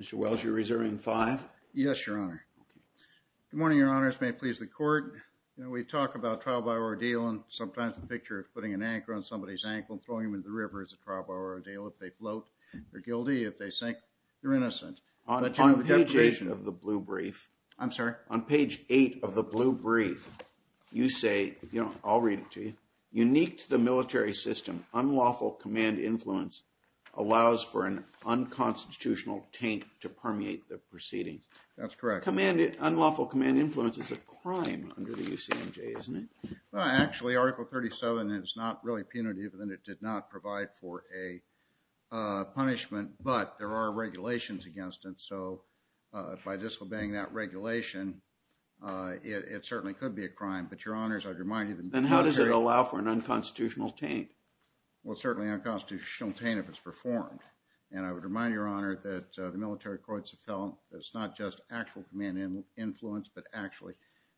Mr. Wells, you're reserving five? Yes, Your Honor. Okay. Good morning, Your Honors. May it please the court. You know, we talk about trial by ordeal and sometimes the picture of putting an anchor on somebody's ankle and throwing them into the river is a trial by ordeal if they float, they're guilty. If they sink, they're innocent. On page eight of the blue brief. I'm sorry? On page eight of the blue brief, you say, you know, I'll read it to you, unique to the military system, unlawful command influence allows for an unconstitutional taint to permeate the proceedings. That's correct. Unlawful command influence is a crime under the UCMJ, isn't it? Well, actually, Article 37 is not really punitive and it did not provide for a punishment, but there are regulations against it. So by disobeying that regulation, it certainly could be a crime, but Your Honors, I'd remind you that the military. Then how does it allow for an unconstitutional taint? Well, certainly unconstitutional taint if it's performed. And I would remind Your Honor that the military courts have felt that it's not just actual command influence, but actually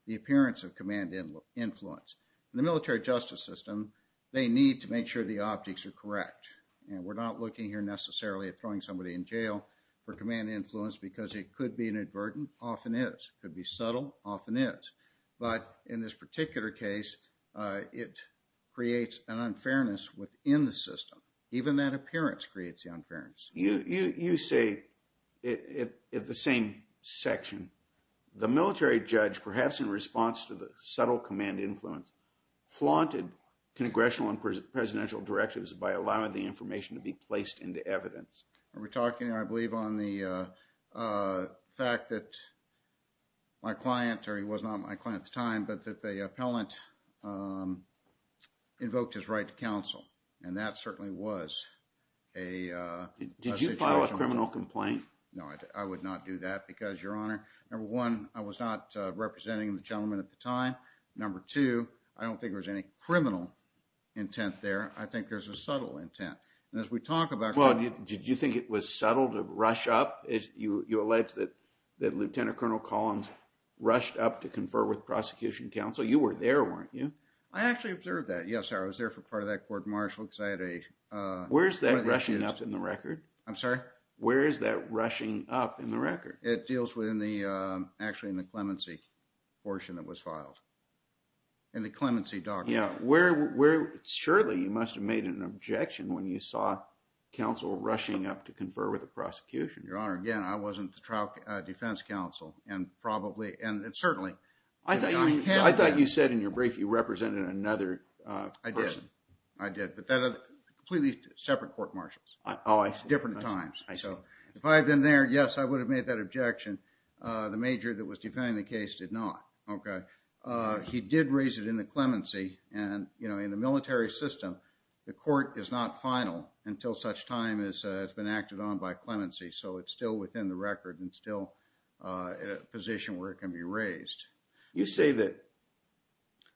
the appearance of command influence in the military justice system. They need to make sure the optics are correct. And we're not looking here necessarily at throwing somebody in jail for command influence because it could be inadvertent, often is, could be subtle, often is. But in this particular case, it creates an unfairness within the system. Even that appearance creates the unfairness. You say, at the same section, the military judge, perhaps in response to the subtle command influence, flaunted congressional and presidential directives by allowing the information to be placed into evidence. Are we talking, I believe, on the fact that my client, or he was not my client at the time, that the appellant invoked his right to counsel. And that certainly was a situation. Did you file a criminal complaint? No, I would not do that because, Your Honor, number one, I was not representing the gentleman at the time. Number two, I don't think there was any criminal intent there. I think there's a subtle intent. And as we talk about... Well, did you think it was subtle to rush up? You alleged that Lieutenant Colonel Collins rushed up to confer with prosecution counsel. You were there, weren't you? I actually observed that. Yes, sir. I was there for part of that court-martial because I had a... Where's that rushing up in the record? I'm sorry? Where is that rushing up in the record? It deals with, actually, in the clemency portion that was filed, in the clemency document. Yeah. Surely, you must have made an objection when you saw counsel rushing up to confer with the prosecution. Your Honor, again, I wasn't the trial defense counsel, and certainly... I thought you said in your brief you represented another person. I did. I did. But completely separate court-martials. Oh, I see. Different times. I see. If I had been there, yes, I would have made that objection. The major that was defending the case did not, okay? He did raise it in the clemency, and in the military system, the court is not final until such time as has been acted on by clemency. So, it's still within the record and still in a position where it can be raised. You say that,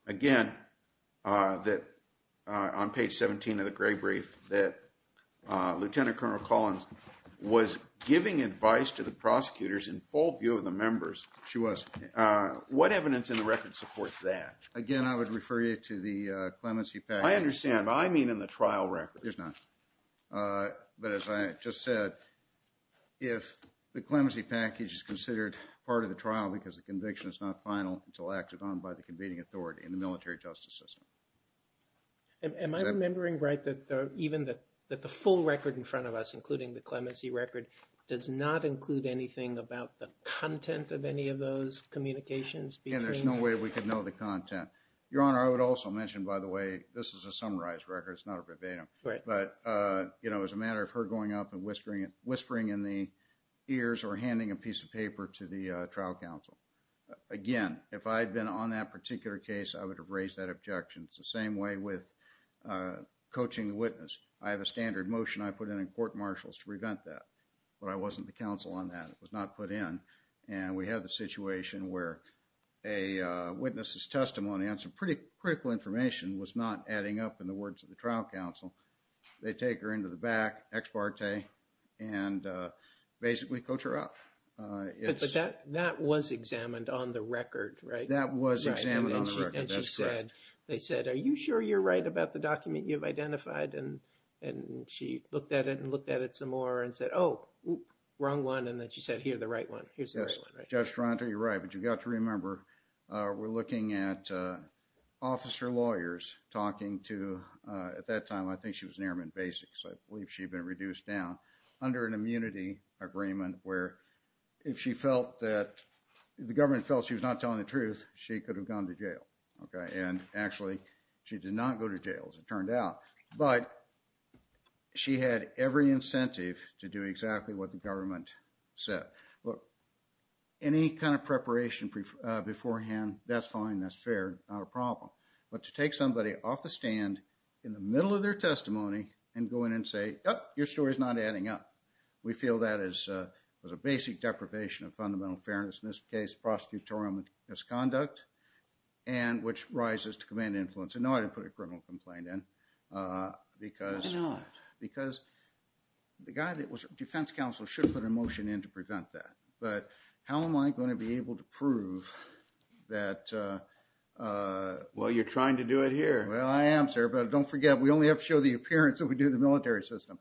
again, that on page 17 of the gray brief, that Lieutenant Colonel Collins was giving advice to the prosecutors in full view of the members. She was. What evidence in the record supports that? Again, I would refer you to the clemency package. I understand. I mean in the trial record. There's none. But as I just said, if the clemency package is considered part of the trial because the conviction is not final until acted on by the convening authority in the military justice system. Am I remembering right that even the full record in front of us, including the clemency record, does not include anything about the content of any of those communications between the... Again, there's no way we could know the content. Your Honor, I would also mention, by the way, this is a summarized record. It's not a verbatim. Right. But, you know, as a matter of her going up and whispering in the ears or handing a piece of paper to the trial counsel, again, if I had been on that particular case, I would have raised that objection. It's the same way with coaching the witness. I have a standard motion I put in court marshals to prevent that, but I wasn't the counsel on that. It was not put in. And we have the situation where a witness's testimony and some pretty critical information was not adding up in the words of the trial counsel. They take her into the back, ex parte, and basically coach her up. But that was examined on the record, right? That was examined on the record. That's correct. And she said... They said, are you sure you're right about the document you've identified? And she looked at it and looked at it some more and said, oh, wrong one. And then she said, here's the right one. Here's the right one. Yes. Judge Toronto, you're right. But you've got to remember, we're looking at officer lawyers talking to, at that time, I think she was an airman basic, so I believe she had been reduced down, under an immunity agreement where if she felt that, if the government felt she was not telling the truth, she could have gone to jail, okay? And actually, she did not go to jail, as it turned out, but she had every incentive to do exactly what the government said. Look, any kind of preparation beforehand, that's fine, that's fair, not a problem. But to take somebody off the stand in the middle of their testimony and go in and say, oh, your story's not adding up, we feel that is a basic deprivation of fundamental fairness, in this case, prosecutorial misconduct, and which rises to command influence. I know I didn't put a criminal complaint in because... Why not? I didn't put a criminal motion in to prevent that, but how am I going to be able to prove that... Well, you're trying to do it here. Well, I am, sir. But don't forget, we only have to show the appearance that we do in the military system.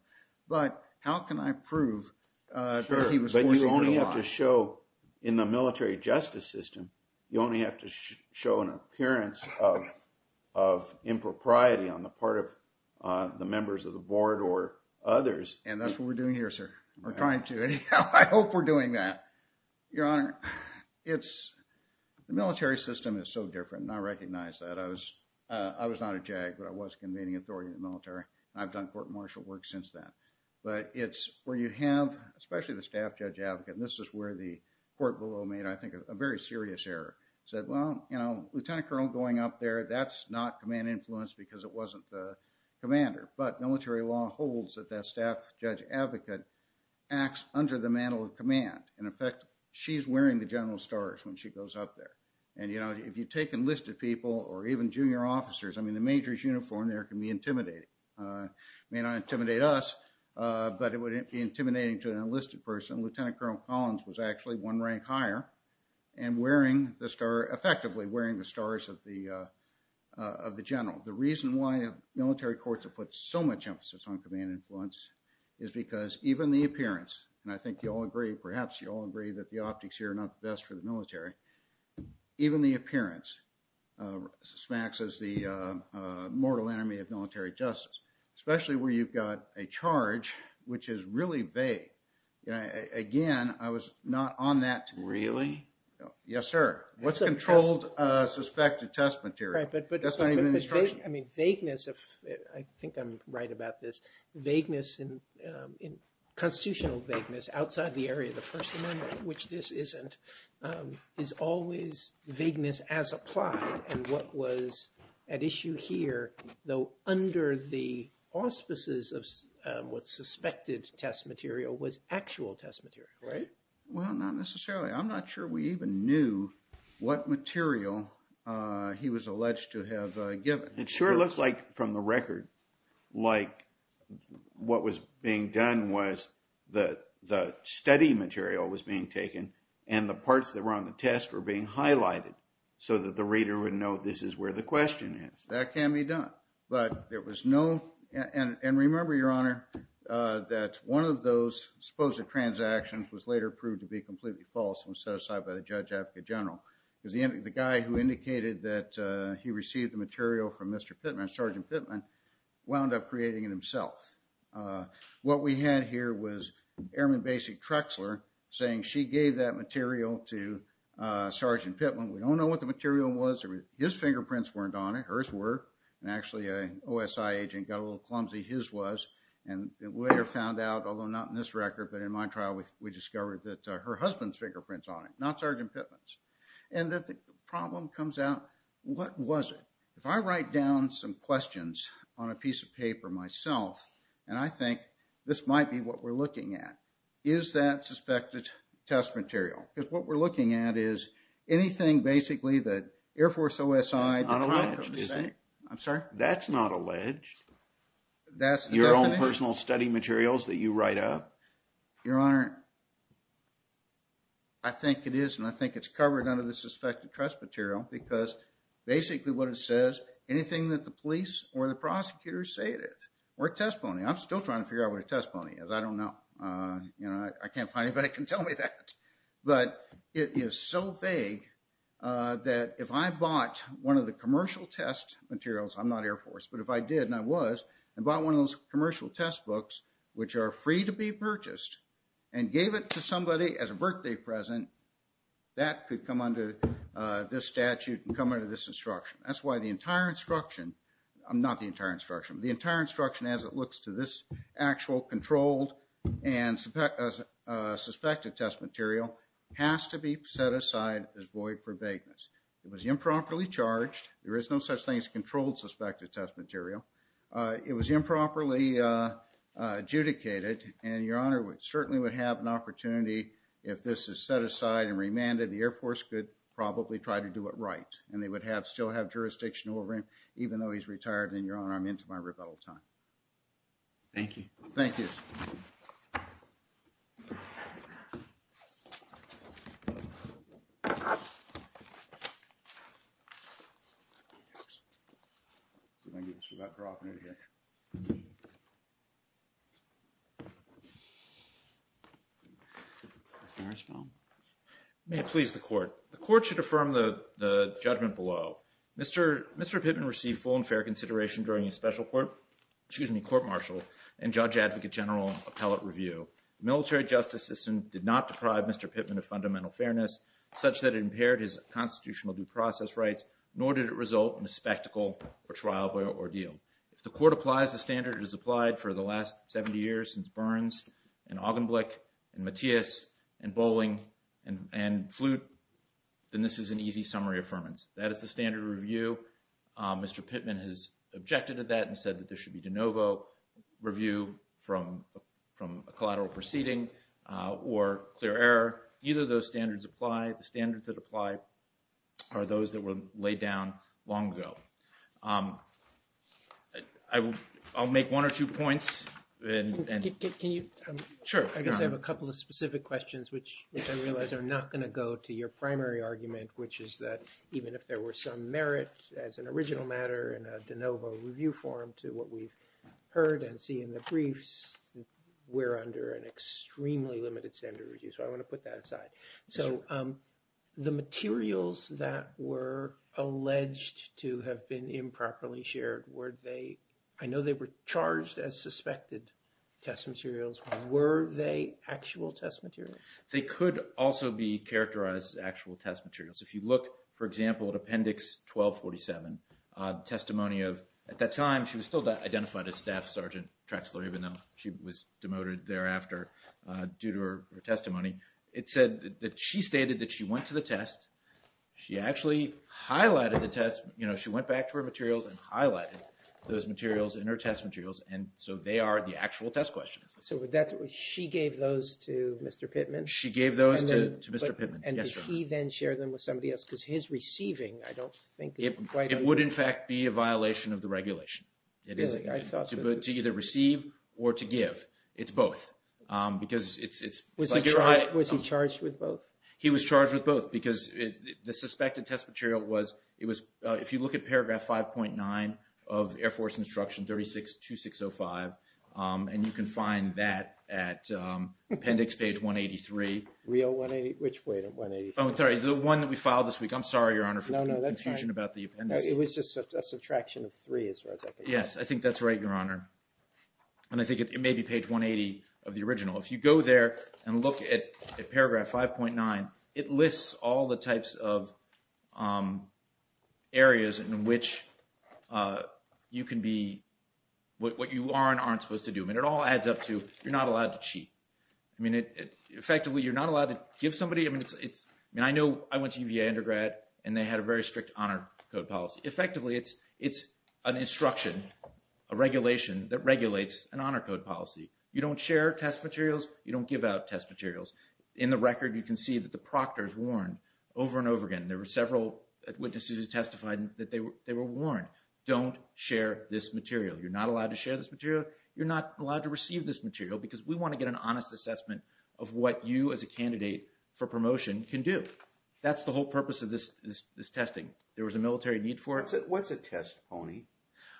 But how can I prove that he was forcing her to lie? Sure, but you only have to show, in the military justice system, you only have to show an appearance of impropriety on the part of the members of the board or others. And that's what we're doing here, sir. We're trying to. I hope we're doing that. Your Honor, the military system is so different, and I recognize that. I was not a JAG, but I was convening authority in the military, and I've done court-martial work since then. But it's where you have, especially the staff judge advocate, and this is where the court below made, I think, a very serious error, said, well, you know, Lieutenant Colonel going up there, that's not command influence because it wasn't the commander. But military law holds that that staff judge advocate acts under the mantle of command. In effect, she's wearing the general stars when she goes up there. And you know, if you take enlisted people or even junior officers, I mean, the major's uniform there can be intimidating. It may not intimidate us, but it would be intimidating to an enlisted person. Lieutenant Colonel Collins was actually one rank higher and wearing the star, effectively wearing the stars of the general. The reason why military courts have put so much emphasis on command influence is because even the appearance, and I think you all agree, perhaps you all agree, that the optics here are not the best for the military. Even the appearance smacks us the mortal enemy of military justice, especially where you've got a charge which is really vague. Again, I was not on that. Really? Yes, sir. What's controlled suspected test material? That's not even in the instruction. I mean, vagueness, I think I'm right about this, vagueness, constitutional vagueness outside the area of the First Amendment, which this isn't, is always vagueness as applied in what was at issue here, though under the auspices of what's suspected test material was actual test material, right? Well, not necessarily. I'm not sure we even knew what material he was alleged to have given. It sure looked like, from the record, like what was being done was the study material was being taken and the parts that were on the test were being highlighted so that the reader would know this is where the question is. That can be done, but there was no, and remember, Your Honor, that one of those supposed transactions was later proved to be completely false and was set aside by the Judge Advocate General. The guy who indicated that he received the material from Mr. Pittman, Sergeant Pittman, wound up creating it himself. What we had here was Airman Basic Trexler saying she gave that material to Sergeant Pittman. We don't know what the material was. His fingerprints weren't on it, hers were, and actually an OSI agent got a little clumsy, his was, and later found out, although not in this record, but in my trial, we discovered that her husband's fingerprints on it, not Sergeant Pittman's. And the problem comes out, what was it? If I write down some questions on a piece of paper myself, and I think this might be what we're looking at, is that suspected test material? Because what we're looking at is anything, basically, that Air Force OSI, I'm sorry? That's not alleged. That's the definition? Your own personal study materials that you write up? Your Honor, I think it is, and I think it's covered under the suspected test material, because basically what it says, anything that the police or the prosecutors say it is. Or a testimony, I'm still trying to figure out what a testimony is, I don't know. I can't find anybody that can tell me that. But it is so vague that if I bought one of the commercial test materials, I'm not Air was, and bought one of those commercial test books, which are free to be purchased, and gave it to somebody as a birthday present, that could come under this statute and come under this instruction. That's why the entire instruction, not the entire instruction, the entire instruction as it looks to this actual controlled and suspected test material has to be set aside It was improperly charged. There is no such thing as controlled suspected test material. It was improperly adjudicated, and Your Honor, we certainly would have an opportunity if this is set aside and remanded, the Air Force could probably try to do it right. And they would have, still have jurisdiction over him, even though he's retired, and Your Honor, I'm into my rebuttal time. Thank you. Thank you. Mr. Harris? May it please the Court. The Court should affirm the judgment below. Mr. Pittman received full and fair consideration during his special court, excuse me, court marshal, and judge advocate general appellate review. The military justice system did not deprive Mr. Pittman of fundamental fairness such that it impaired his constitutional due process rights, nor did it result in a spectacle or trial or ordeal. If the Court applies the standard that has applied for the last 70 years since Burns and Augenblick and Matias and Bolling and Flute, then this is an easy summary affirmance. That is the standard of review. Mr. Pittman has objected to that and said that there should be de novo review from a collateral proceeding or clear error. Either of those standards apply. The standards that apply are those that were laid down long ago. I will, I'll make one or two points, and. Can you? Sure. I guess I have a couple of specific questions, which I realize are not going to go to your primary argument, which is that even if there were some merit as an original matter in a de novo review form to what we've heard and see in the briefs, we're under an extremely limited standard of review. So I want to put that aside. So the materials that were alleged to have been improperly shared, were they, I know they were charged as suspected test materials, were they actual test materials? They could also be characterized as actual test materials. If you look, for example, at Appendix 1247, testimony of, at that time she was still identified as Staff Sergeant Traxler, even though she was demoted thereafter due to her testimony. It said that she stated that she went to the test. She actually highlighted the test. You know, she went back to her materials and highlighted those materials in her test materials. And so they are the actual test questions. So that's, she gave those to Mr. Pittman? She gave those to Mr. Pittman. And did he then share them with somebody else? Because his receiving, I don't think. It would in fact be a violation of the regulation. It is. To either receive or to give. It's both. Because it's... Was he charged with both? He was charged with both because the suspected test material was, it was, if you look at paragraph 5.9 of Air Force Instruction 36-2605, and you can find that at Appendix Page 183. Real 183? Which way to 183? Oh, sorry. The one that we filed this week. I'm sorry, Your Honor. No, no. That's fine. For confusion about the appendices. It was just a subtraction of three as far as I can tell. Yes. I think that's right, Your Honor. And I think it may be page 180 of the original. If you go there and look at paragraph 5.9, it lists all the types of areas in which you can be, what you are and aren't supposed to do. I mean, it all adds up to, you're not allowed to cheat. I mean, effectively, you're not allowed to give somebody, I mean, it's, I mean, I know I went to UVA undergrad and they had a very strict honor code policy. Effectively, it's an instruction, a regulation that regulates an honor code policy. You don't share test materials. You don't give out test materials. In the record, you can see that the proctors warned over and over again, there were several witnesses who testified that they were warned, don't share this material. You're not allowed to share this material. You're not allowed to receive this material because we want to get an honest assessment of what you as a candidate for promotion can do. That's the whole purpose of this testing. There was a military need for it. What's a test, Pony?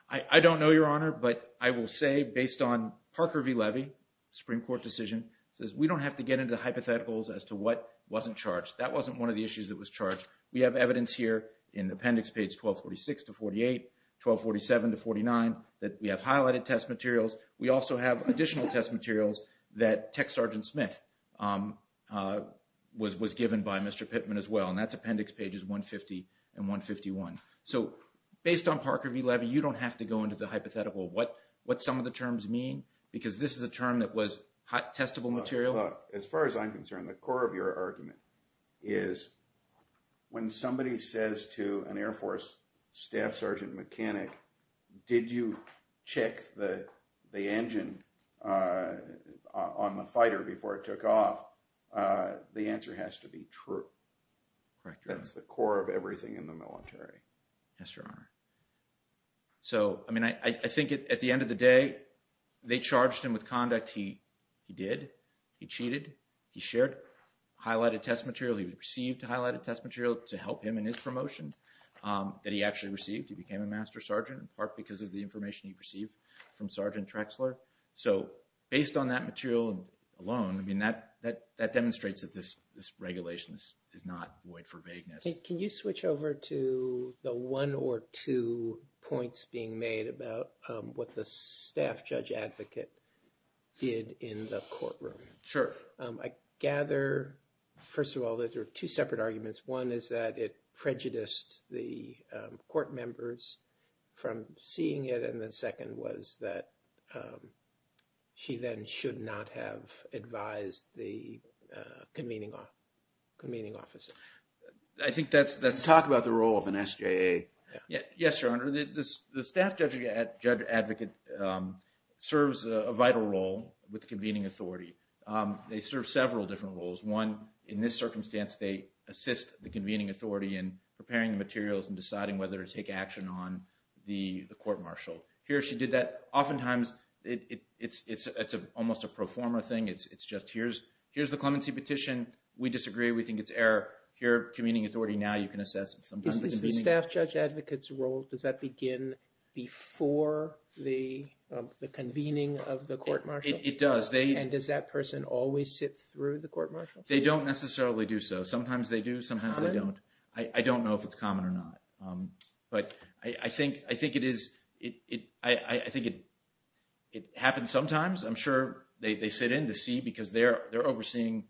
I don't know, Your Honor, but I will say, based on Parker v. Levy, Supreme Court decision, it says we don't have to get into the hypotheticals as to what wasn't charged. That wasn't one of the issues that was charged. We have evidence here in appendix page 1246 to 48, 1247 to 49, that we have highlighted test materials. We also have additional test materials that Tech Sergeant Smith was given by Mr. Pittman as well. That's appendix pages 150 and 151. Based on Parker v. Levy, you don't have to go into the hypothetical of what some of the terms mean because this is a term that was testable material. Look, as far as I'm concerned, the core of your argument is when somebody says to an the engine on the fighter before it took off, the answer has to be true. That's the core of everything in the military. Yes, Your Honor. So I mean, I think at the end of the day, they charged him with conduct he did, he cheated, he shared highlighted test material, he received highlighted test material to help him in his promotion that he actually received. He became a Master Sergeant in part because of the information he received from Sergeant Trexler. So based on that material alone, I mean, that demonstrates that this regulation is not void for vagueness. Can you switch over to the one or two points being made about what the staff judge advocate did in the courtroom? Sure. I gather, first of all, that there are two separate arguments. One is that it prejudiced the court members from seeing it, and the second was that he then should not have advised the convening officer. I think that's... Let's talk about the role of an SJA. Yes, Your Honor. The staff judge advocate serves a vital role with the convening authority. They serve several different roles. One, in this circumstance, they assist the convening authority in preparing the materials and deciding whether to take action on the court-martial. Here she did that. Oftentimes, it's almost a pro forma thing. It's just here's the clemency petition. We disagree. We think it's error. Here, convening authority. Now you can assess sometimes the convening... Is the staff judge advocate's role, does that begin before the convening of the court-martial? It does. Does that person always sit through the court-martial? They don't necessarily do so. Sometimes they do. Sometimes they don't. I don't know if it's common or not, but I think it happens sometimes. I'm sure they sit in to see because they're overseeing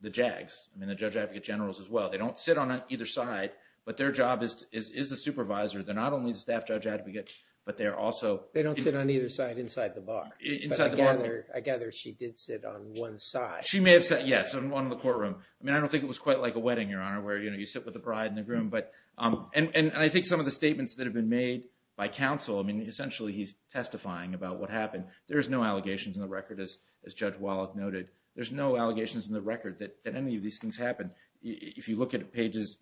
the JAGs, the judge advocate generals as well. They don't sit on either side, but their job is as a supervisor. They're not only the staff judge advocate, but they're also... They don't sit on either side inside the bar. I gather she did sit on one side. She may have sat... Yes, on one of the courtroom. I mean, I don't think it was quite like a wedding, Your Honor, where you sit with the bride and the groom. I think some of the statements that have been made by counsel, I mean, essentially he's testifying about what happened. There's no allegations in the record as Judge Wallach noted. There's no allegations in the record that any of these things happened. If you look at appendix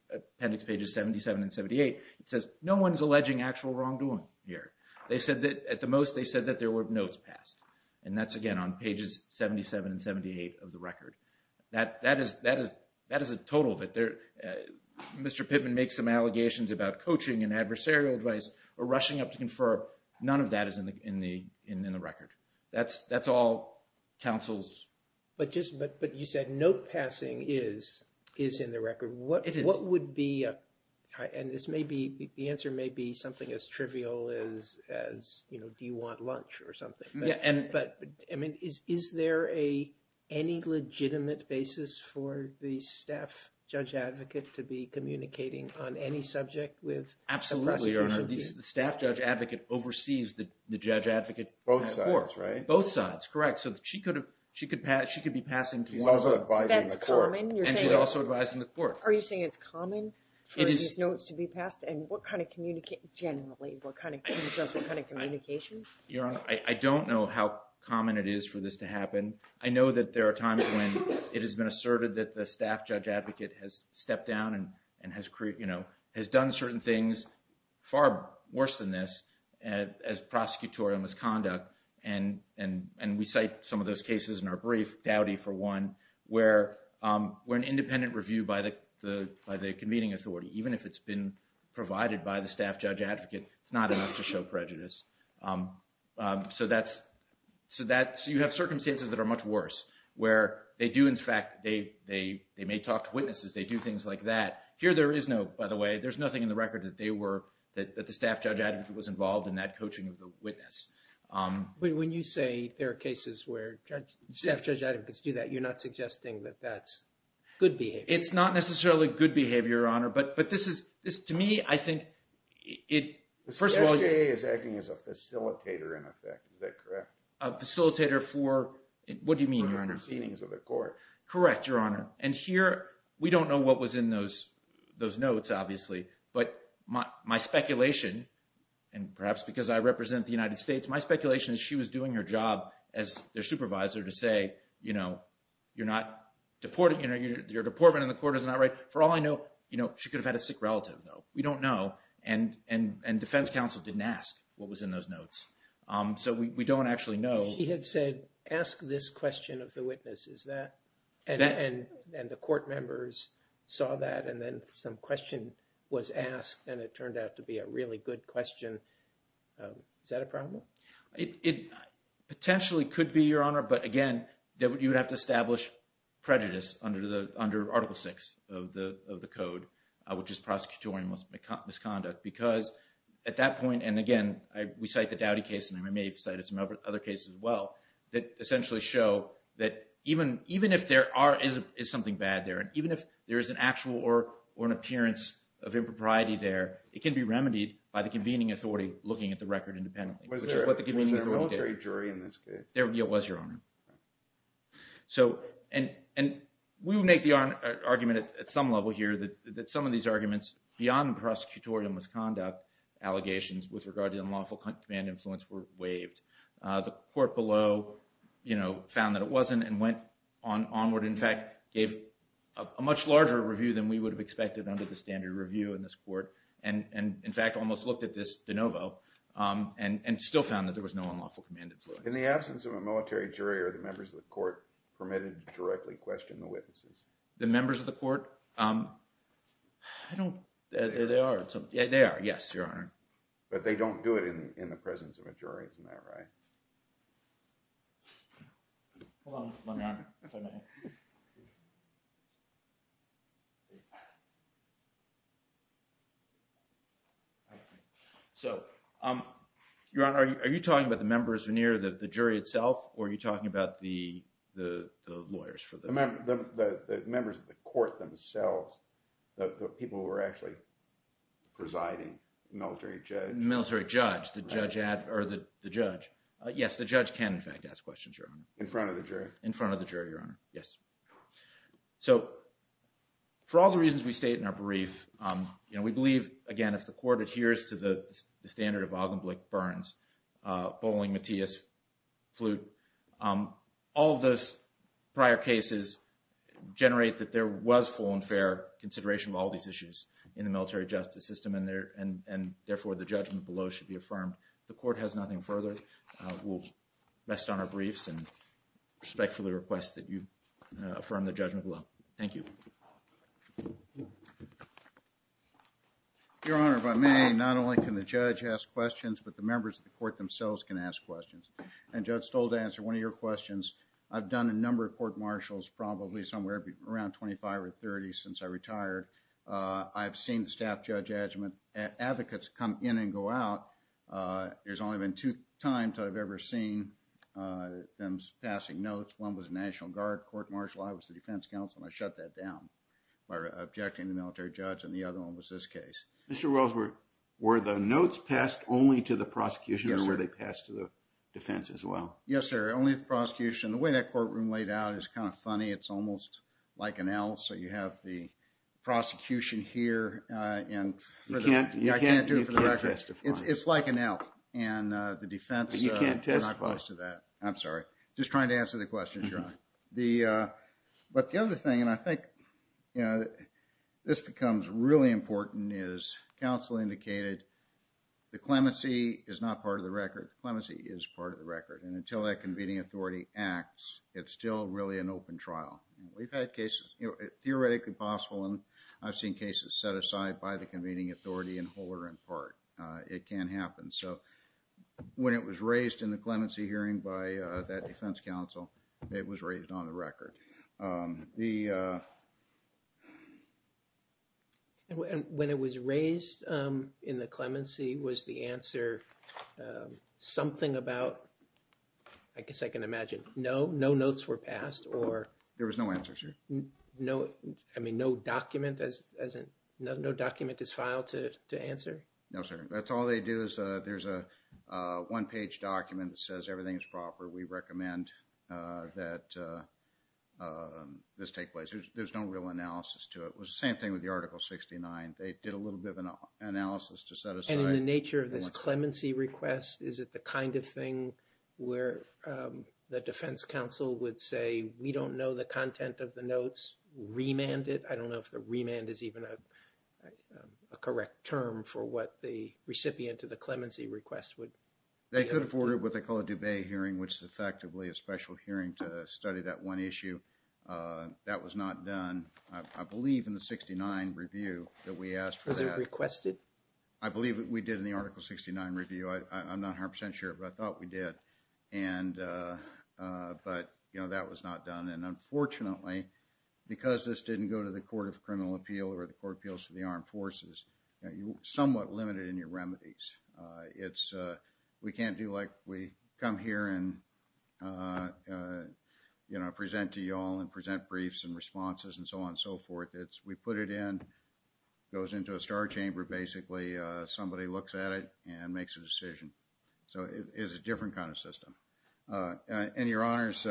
pages 77 and 78, it says, no one's alleging actual wrongdoing here. At the most, they said that there were notes passed. And that's, again, on pages 77 and 78 of the record. That is a total that they're... Mr. Pittman makes some allegations about coaching and adversarial advice or rushing up to confer. None of that is in the record. That's all counsel's... But you said note passing is in the record. It is. What would be... And this may be... The answer may be something as trivial as, you know, do you want lunch or something. But I mean, is there any legitimate basis for the staff judge advocate to be communicating on any subject with the prosecution team? Absolutely, Your Honor. The staff judge advocate oversees the judge advocate court. Both sides, right? Both sides, correct. So she could be passing to one of them. She's also advising the court. That's common? And she's also advising the court. Are you saying it's common? It is. Is it common for these notes to be passed? And what kind of... Generally. What kind of... What kind of communication? Your Honor, I don't know how common it is for this to happen. I know that there are times when it has been asserted that the staff judge advocate has stepped down and has done certain things far worse than this as prosecutorial misconduct. And we cite some of those cases in our brief, Dowdy for one, where an independent review by the convening authority, even if it's been provided by the staff judge advocate, it's not enough to show prejudice. So that's... So you have circumstances that are much worse, where they do, in fact, they may talk to witnesses, they do things like that. Here, there is no, by the way, there's nothing in the record that they were, that the staff judge advocate was involved in that coaching of the witness. When you say there are cases where staff judge advocates do that, you're not suggesting that that's good behavior? It's not necessarily good behavior, Your Honor. But this is, to me, I think it, first of all- The SJA is acting as a facilitator in effect, is that correct? A facilitator for, what do you mean, Your Honor? For the proceedings of the court. Correct, Your Honor. And here, we don't know what was in those notes, obviously. But my speculation, and perhaps because I represent the United States, my speculation is she was doing her job as their supervisor to say, you know, you're not deporting, you're deportment in the court is not right. For all I know, you know, she could have had a sick relative, though. We don't know, and defense counsel didn't ask what was in those notes. So we don't actually know. She had said, ask this question of the witness, is that? And the court members saw that, and then some question was asked, and it turned out to be a really good question, is that a problem? It potentially could be, Your Honor, but again, you would have to establish prejudice under Article VI of the Code, which is prosecutorial misconduct, because at that point, and again, we cite the Dowdy case, and I may have cited some other cases as well, that essentially show that even if there is something bad there, and even if there is an actual or an appearance of impropriety there, it can be remedied by the convening authority looking at the record independently. Was there a military jury in this case? There was, Your Honor. So, and we will make the argument at some level here that some of these arguments beyond the prosecutorial misconduct allegations with regard to unlawful command influence were waived. The court below, you know, found that it wasn't and went onward, in fact, gave a much larger review than we would have expected under the standard review in this court, and in fact almost looked at this de novo, and still found that there was no unlawful command influence. In the absence of a military jury, are the members of the court permitted to directly question the witnesses? The members of the court? I don't… They are. They are. Yes, Your Honor. But they don't do it in the presence of a jury, isn't that right? So, Your Honor, are you talking about the members in here, the jury itself, or are you talking about the lawyers for the… The members of the court themselves, the people who are actually presiding, the military judge. The military judge. The judge… Or the judge. Yes, the judge can, in fact, ask questions, Your Honor. In front of the jury. In front of the jury, Your Honor. Yes. So, for all the reasons we state in our brief, you know, we believe, again, if the court adheres to the standard of Augenblick, Burns, Boling, Matias, Flute, all of those prior cases generate that there was full and fair consideration of all these issues in the military judgment below should be affirmed. The court has nothing further. We'll rest on our briefs and respectfully request that you affirm the judgment below. Thank you. Your Honor, if I may, not only can the judge ask questions, but the members of the court themselves can ask questions. And Judge Stoll, to answer one of your questions, I've done a number of court martials, probably somewhere around 25 or 30 since I retired. I've seen staff judge advocates come in and go out. There's only been two times that I've ever seen them passing notes. One was National Guard court martial, I was the defense counsel, and I shut that down by objecting the military judge, and the other one was this case. Mr. Wells, were the notes passed only to the prosecution or were they passed to the defense as well? Yes, sir. Only the prosecution. The way that courtroom laid out is kind of funny. It's almost like an L, so you have the prosecution here, and I can't do it for the record. It's like an L, and the defense, they're not close to that. I'm sorry. Just trying to answer the question, Your Honor. But the other thing, and I think this becomes really important, is counsel indicated the clemency is not part of the record. The clemency is part of the record, and until that convening authority acts, it's still really an open trial. We've had cases, you know, theoretically possible, and I've seen cases set aside by the convening authority in whole or in part. It can happen, so when it was raised in the clemency hearing by that defense counsel, it was raised on the record. The uh... When it was raised in the clemency, was the answer something about, I guess I can imagine, no? No notes were passed, or... There was no answer, sir. No, I mean, no document as in... no document is filed to answer? No, sir. That's all they do is there's a one-page document that says everything is proper. We recommend that this take place. There's no real analysis to it. It was the same thing with the Article 69. They did a little bit of an analysis to set aside... The defense counsel would say, we don't know the content of the notes, remand it. I don't know if the remand is even a correct term for what the recipient to the clemency request would... They could afford what they call a dube hearing, which is effectively a special hearing to study that one issue. That was not done, I believe, in the 69 review that we asked for that. Was it requested? I believe we did in the Article 69 review. I'm not 100% sure, but I thought we did. But, you know, that was not done, and unfortunately, because this didn't go to the Court of Criminal Appeal or the Court of Appeals for the Armed Forces, you're somewhat limited in your remedies. We can't do like we come here and, you know, present to you all and present briefs and responses and so on and so forth. We put it in, it goes into a star chamber, basically, somebody looks at it and makes a decision. So it is a different kind of system. And Your Honors,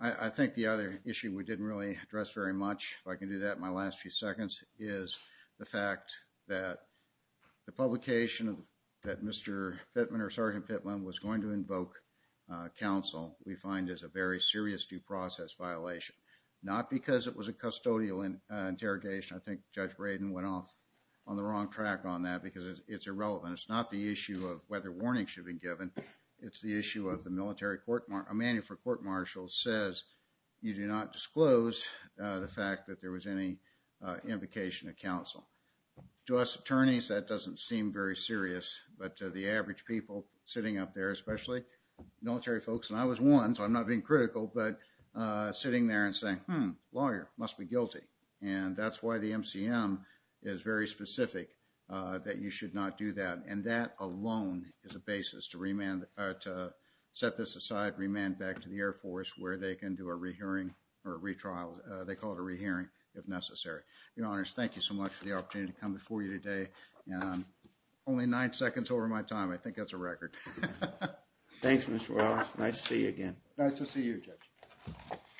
I think the other issue we didn't really address very much, if I can do that in my last few seconds, is the fact that the publication that Mr. Pittman or Sergeant Pittman was going to invoke counsel, we find is a very serious due process violation. Not because it was a custodial interrogation. I think Judge Braden went off on the wrong track on that because it's irrelevant. It's not the issue of whether warnings should be given. It's the issue of the military court, a manual for court-martial says you do not disclose the fact that there was any invocation of counsel. To us attorneys, that doesn't seem very serious, but to the average people sitting up there, especially military folks, and I was one, so I'm not being critical, but sitting there and saying, hmm, lawyer must be guilty. And that's why the MCM is very specific that you should not do that. And that alone is a basis to remand, to set this aside, remand back to the Air Force where they can do a rehearing or a retrial, they call it a rehearing, if necessary. Your Honors, thank you so much for the opportunity to come before you today. Only nine seconds over my time. I think that's a record. Thanks, Mr. Wells. Nice to see you again. Nice to see you, Judge.